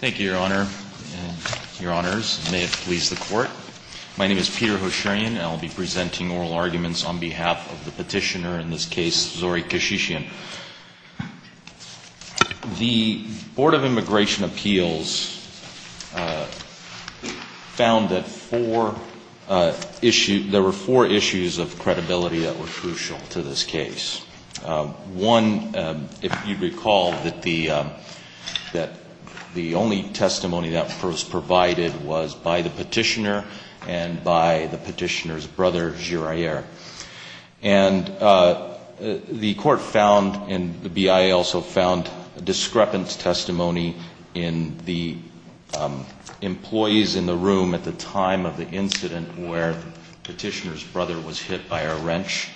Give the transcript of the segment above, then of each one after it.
Thank you, Your Honor and Your Honors. May it please the Court. My name is Peter Hosharian, and I'll be presenting oral arguments on behalf of the petitioner in this case, Zorik Keshishian. The Board of Immigration Appeals found that there were four issues of credibility that were crucial to this case. One, if you recall, that the only testimony that was provided was by the petitioner and by the petitioner's brother, Girayere. And the court found, and the BIA also found, discrepant testimony in the employees in the room at the time of the incident where the petitioner's brother was hit by a wrench.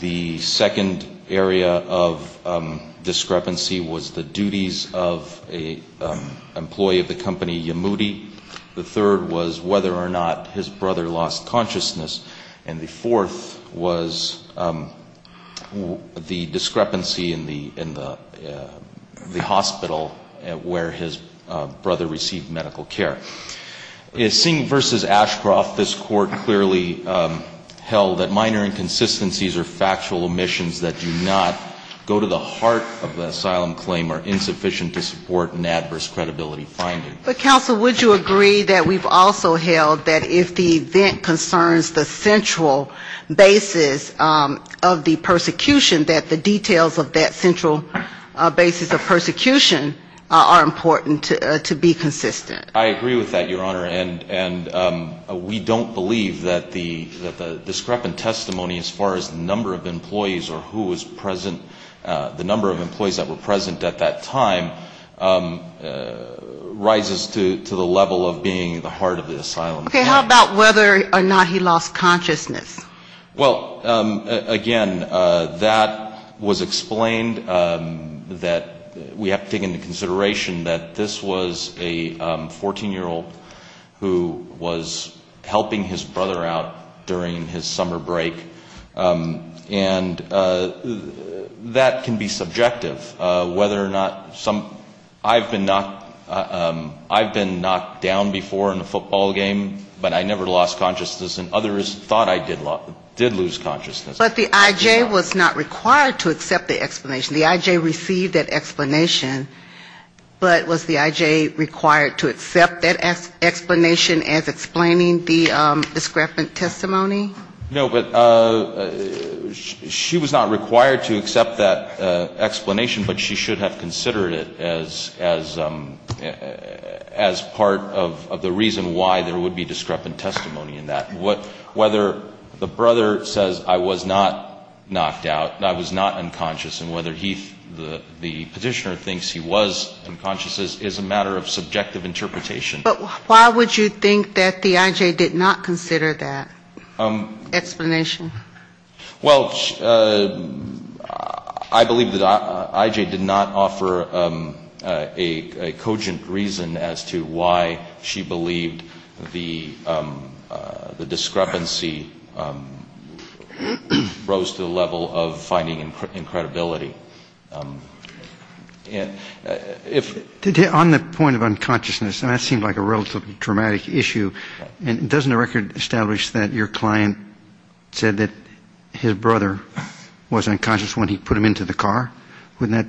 The second area of discrepancy was the duties of an employee of the company, Yamudi. The third was whether or not his brother lost consciousness. And the fourth was the discrepancy in the hospital where his brother received medical care. Seeing v. Ashcroft, this Court clearly held that minor inconsistencies or factual omissions that do not go to the heart of the asylum claim are insufficient to support an adverse credibility finding. But, counsel, would you agree that we've also held that if the event concerns the central basis of the persecution, that the details of that central basis of persecution are important to be consistent? I agree with that, Your Honor. And we don't believe that the discrepant testimony as far as the number of employees or who was present, the number of employees that were present at that time, rises to the level of being the heart of the asylum claim. Okay. How about whether or not he lost consciousness? Well, again, that was explained that we have to take into consideration that this was a 14-year-old who was helping his brother out during his summer break. And that can be subjective, whether or not some, I've been knocked down before in a football game, but I never lost consciousness, and others thought I did lose consciousness. But the I.J. was not required to accept the explanation. The I.J. received that explanation. But was the I.J. required to accept that explanation as explaining the discrepant testimony? No, but she was not required to accept that explanation, but she should have considered it as part of the reason why there would be discrepant testimony in that. Whether the brother says, I was not knocked out, I was not unconscious, and whether the petitioner thinks he was unconscious is a matter of subjective interpretation. But why would you think that the I.J. did not consider that? Explanation. Well, I believe that I.J. did not offer a cogent reason as to why she believed the discrepancy rose to the level of finding incredibility. On the point of unconsciousness, and that seemed like a relatively dramatic issue, doesn't the record establish that your client said that his brother was unconscious when he put him into the car? Wouldn't that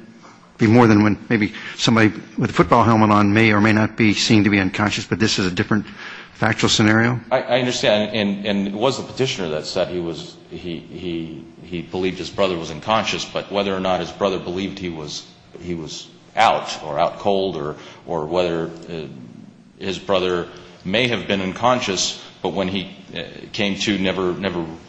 be more than when maybe somebody with a football helmet on may or may not be seen to be unconscious, but this is a different factual scenario? I understand, and it was the petitioner that said he was, he believed his brother was unconscious, but whether or not his brother believed he was out or out cold or whether his brother may have been unconscious, but when he came to, never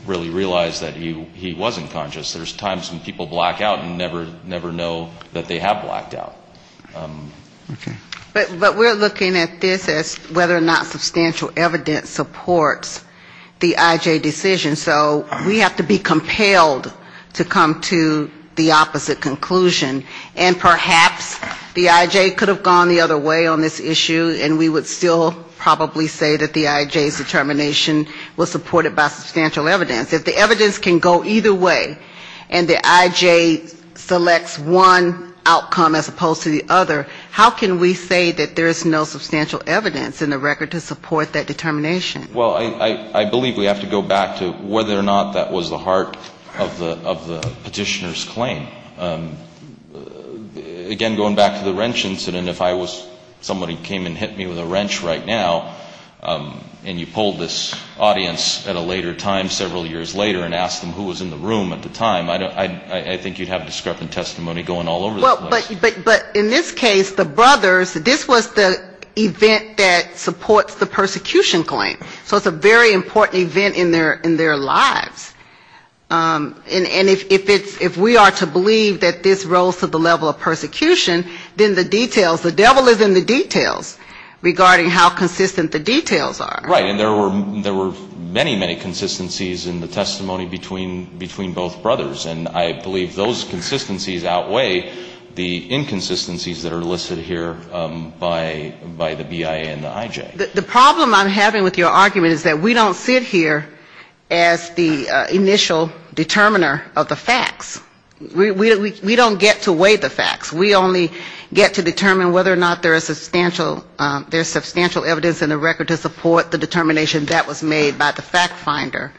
really realized that he was unconscious. There's times when people black out and never know that they have blacked out. Okay. But we're looking at this as whether or not substantial evidence supports the I.J. decision. So we have to be compelled to come to the opposite conclusion. And perhaps the I.J. could have gone the other way on this issue, and we would still probably say that the I.J.'s determination was supported by substantial evidence. If the evidence can go either way, and the I.J. selects one outcome as opposed to the other, how can we say that there is no substantial evidence in the record to support that determination? Well, I believe we have to go back to whether or not that was the heart of the petitioner's claim. Again, going back to the wrench incident, if I was, somebody came and hit me with a wrench right now, and you polled this audience at a later time, several years later, and asked them who was in the room at the time, I think you'd have discrepant testimony going all over the place. But in this case, the brothers, this was the event that supports the persecution claim. So it's a very important event in their lives. And if it's, if we are to believe that the I.J. believed that this rose to the level of persecution, then the details, the devil is in the details regarding how consistent the details are. Right. And there were many, many consistencies in the testimony between both brothers. And I believe those consistencies outweigh the inconsistencies that are listed here by the BIA and the I.J. The problem I'm having with your argument is that we don't sit here as the initial determiner of the facts. We don't sit here as the initial determiner of the facts. We don't get to weigh the facts. We only get to determine whether or not there is substantial evidence in the record to support the determination that was made by the fact finder.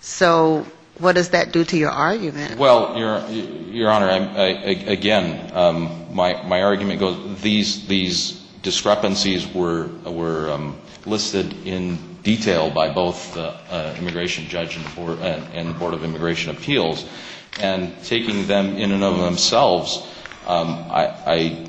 So what does that do to your argument? Well, Your Honor, again, my argument goes, these discrepancies were listed in detail by both the immigration judge and the Board of Immigration Appeals, and taking them into consideration in and of themselves, I,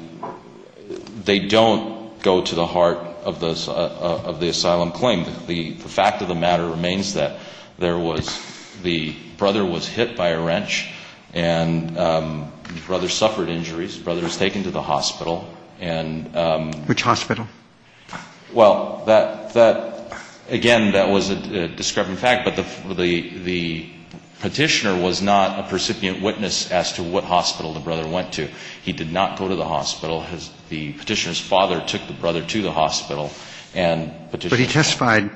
they don't go to the heart of the asylum claim. The fact of the matter remains that there was, the brother was hit by a wrench, and the brother suffered injuries. The brother was taken to the hospital. Which hospital? Well, that, again, that was a discrepant fact, but the petitioner was not a percipient witness as to what hospital the brother went to. He did not go to the hospital. The petitioner's father took the brother to the hospital. But he testified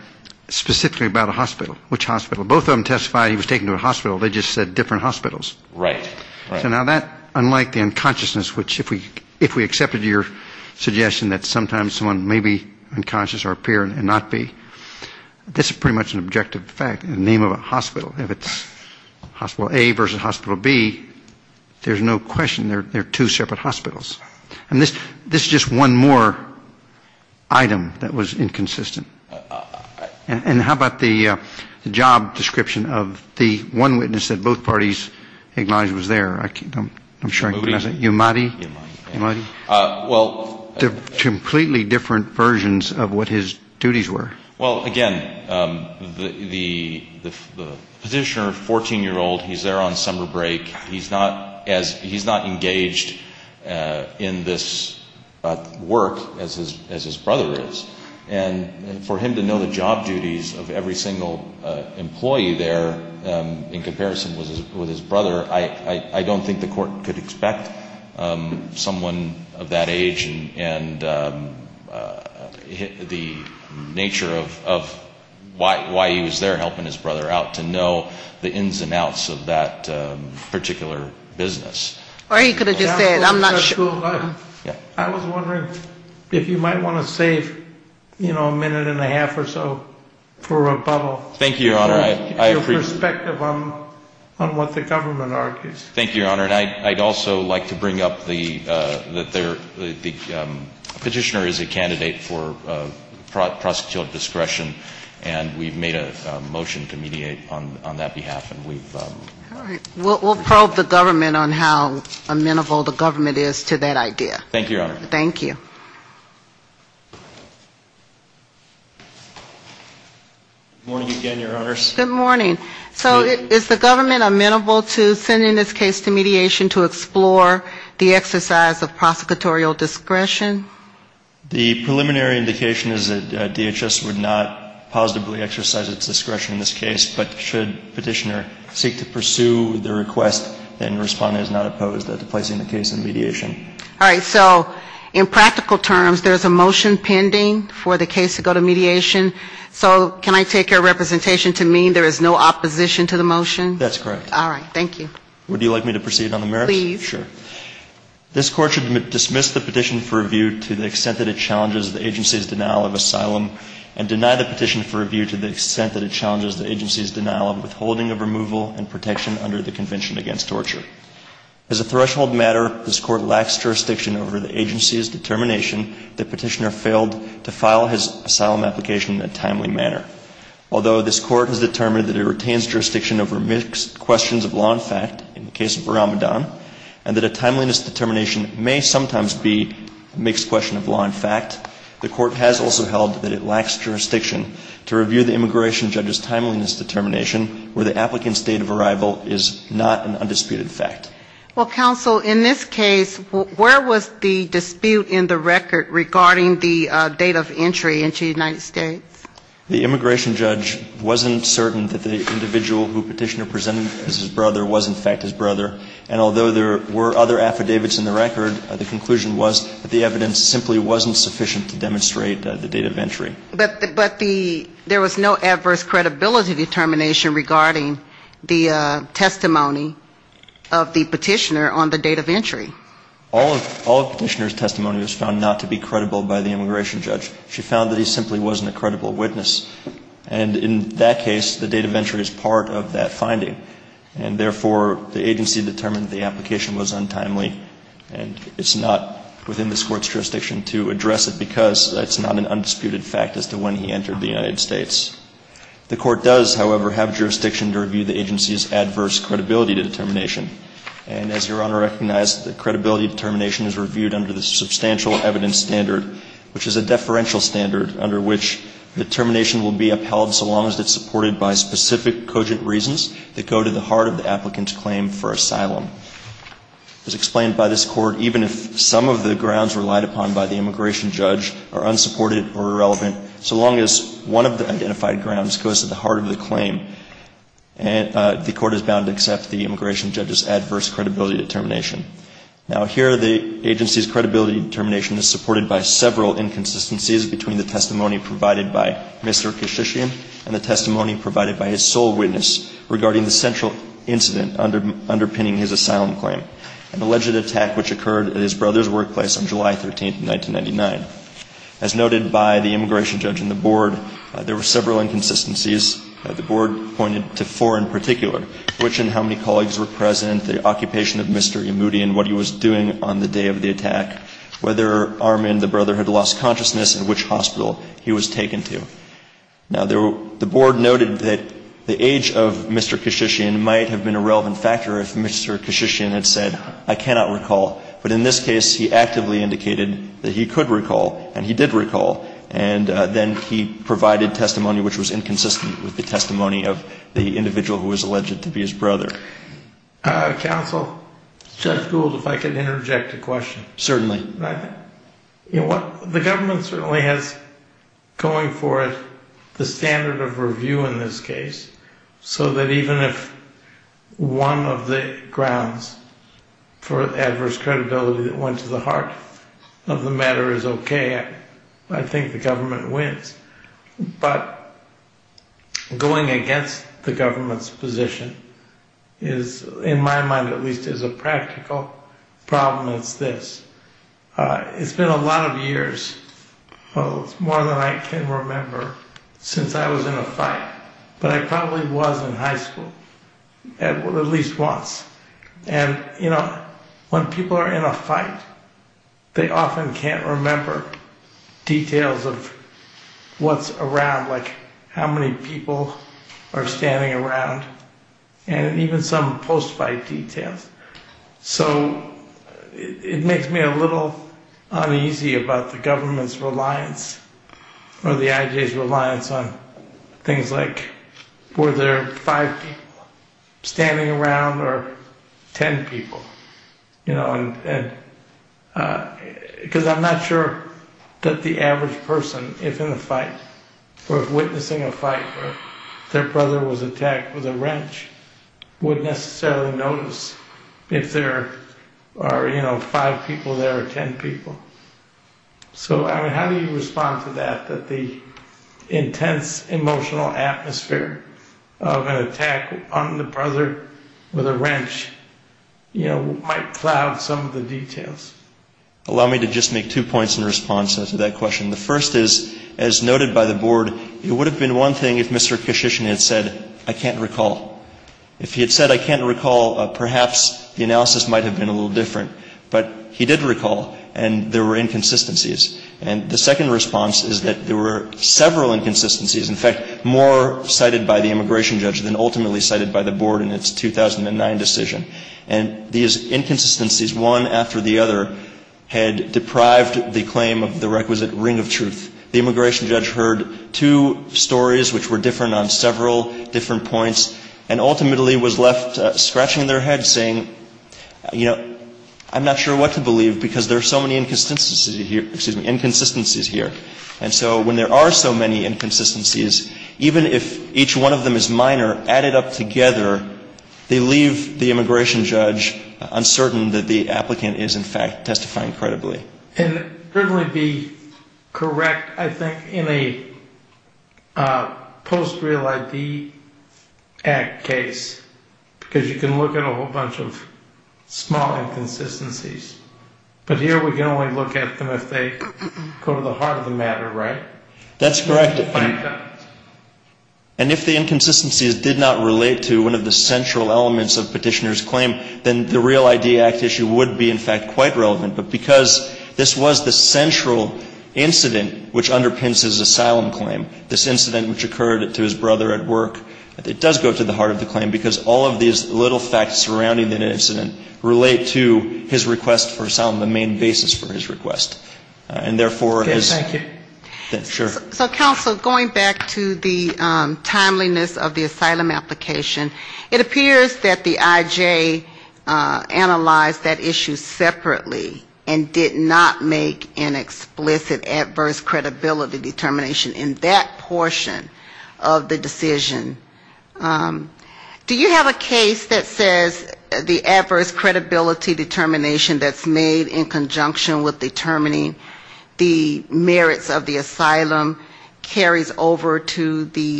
specifically about a hospital. Which hospital? Both of them testified he was taken to a hospital. They just said different hospitals. Right. So now that, unlike the unconsciousness, which if we accepted your suggestion that sometimes someone may be unconscious or appear and not be, this is pretty much an objective fact, the name of a hospital. If it's hospital A versus hospital B, there's no question they're two separate hospitals. And this is just one more item that was inconsistent. And how about the job description of the one witness that both parties acknowledged was there? I'm not sure. Umadi. Umadi. Well, completely different versions of what his duties were. Well, again, the petitioner, 14-year-old, he's there on summer break. He's not engaged in this work as his brother is. And for him to know the job duties of every single employee there in comparison with his brother, I don't think the court could expect someone of that age and the nature of why he was there helping his brother out to know the ins and outs of that particular business. Or he could have just said, I'm not sure. So I was wondering if you might want to save, you know, a minute and a half or so for rebuttal. Thank you, Your Honor. Your perspective on what the government argues. Thank you, Your Honor. And I'd also like to bring up that the petitioner is a candidate for prosecutorial discretion, and we've made a motion to mediate on that behalf. All right. We'll probe the government on how amenable the government is to that idea. Thank you, Your Honor. Thank you. Good morning again, Your Honors. Good morning. So is the government amenable to sending this case to mediation to explore the exercise of prosecutorial discretion? The preliminary indication is that DHS would not positively exercise its discretion in this case, but should petitioner seek to pursue the request, then the respondent is not opposed to placing the case in mediation. All right. So in practical terms, there's a motion pending for the case to go to mediation. So can I take your representation to mean there is no opposition to the motion? That's correct. All right. Thank you. Would you like me to proceed on the merits? Please. Sure. Thank you, Your Honor. Thank you, Your Honor. Thank you, Your Honor. Thank you, Your Honor. Thank you, Your Honor. Thank you, Your Honor. Thank you, Your Honor. Thank you, Your Honor. Thank you, Your Honor. Thank you, Your Honor. Thank you, Your Honor. Thank you, Your Honor. Thank you, Your Honor. Do you have a case that says the adverse credibility determination that's made in conjunction with determining the merits of the asylum carries over to the untimeliness of the asylum application? I'm just curious as to whether or not there's a case you made that representation. And I was just curious if there's a case that says that finitely. I'm not familiar with a case which says exactly that point. But the credibility determination, it could be credibility with respect to a particular portion of a claim. But generally speaking, when an immigration judge makes a credibility determination, they're determining the credibility of the witness. And if the immigration judge determines that the witness is not providing credible testimony, unless the immigration judge states that the credibility determination is with respect to one portion or the other of the testimony, then the credibility determination is with respect to all of the testimony of the applicant. Well, that's not necessarily true, because a CAT claim is considered separate and apart. The adverse credibility determination is not determinative of the CAT claim. That's correct. So that's why I'm asking you, does the adverse credibility determination carry over to the untimeliness? Because the CAT claim is analyzed separately and apart from the adverse credibility determination. I'm asking you, does a similar analysis apply when we're looking at the untimeliness application? With respect to the Convention Against Torture, the immigration judge has to look at things like country conditions evidence to determine whether there is a probability of torture in the country. And so there may be objective evidence in the record unrelated to testimony credible or incredible by the applicant, which could render him or her eligible for protection under the Convention Against Torture. And that's what this Court said in Camalthus, that the IJ has to engage in a separate determination under the Convention Against Torture. Well, there's a separate analysis, too, for the untimeliness of the application. And we make a determination whether or not the facts are disputed or undisputed. So it's a little bit different, and the IJ treated it a little bit differently and analyzed it separately. So that's why there is a little uncertainty in my mind regarding whether or not the adverse credibility determination that was made in the merits of the asylum application carries over. And I was just curious if you knew of a case that resolved that particular point. Sure. Well, Your Honor, there was an alternative argument made in Respondent's Brief that even if this Court does have the timeliness determinations supported by the record, where there were affidavits and the testimony of Petitioner, an individual who claimed to be his brother, but that the adverse credibility was not overcome by such evidence. And that's the alternative argument presented in Respondent's Brief. All right. Thank you, counsel. Any other questions from the panel? None here. Thank you. All right. Thank you, counsel. Thank you very much, Your Honors. We'll hear a rebuttal. Thank you, Your Honors. I'd just like to use my time to address the one-year issue as well. The ‑‑ like Your Honor said, there is no case law that I'm aware of that says that adverse credibility finding carries over to the one-year issue. What did the judge say about that, when he decided that it was a one-year issue? It's not shown by clear and convincing evidence that it was brought within a year. What did he say on the record? I believe the judge found that there was no documentary evidence that was supporting the Petitioner's ‑‑ What did he say about the credibility of the ‑‑ I don't think he made any ‑‑ she made any determination about the credibility. She certainly did make an explicit adverse credibility determination in that. She did, but she ‑‑ She did not in the timeliness, when she was talking about the timeliness issue, she did not make an explicit adverse credibility determination, which raised the question in my mind as to whether or not the subsequent explicit adverse credibility determination related back to this part, because she said there's some skepticism about the testimony. But under our case authority, that's not enough. Right. And in going further, she did not offer any articulative basis to question the Petitioner's credibility or offer any specific or cogent reasons for her stated disbelief. Well, she said she would discuss it later, in her opinion. I was wondering if that was enough to tie them in together. But that's neither here nor there. So did you want to make any other statements about the merits of the asylum claim? Your Honor, basically, it, again, goes back to the point both the differences between the brother and both brothers' testimony is it can be very subjective, like Judge Gould brought up, that that kind of traumatic experience can alter somebody's memory, especially getting hit by a wrench in your head. And, you know, basically getting taken to a hospital, and you might not remember, you might remember some facts, you might not remember others. So we can't hold those discrepancies, do not go to the heart of the matter, which was he was struck by the wrench, and he did receive medical treatment for that. All right. Thank you, counsel. Thank you, Your Honor. Thank you to both counsel. The case just argued is submitted for decision by the court. The last three cases on calendar, BGI, Light v. American General, the last two cases, and Rees v. Colvin have been submitted on the briefs.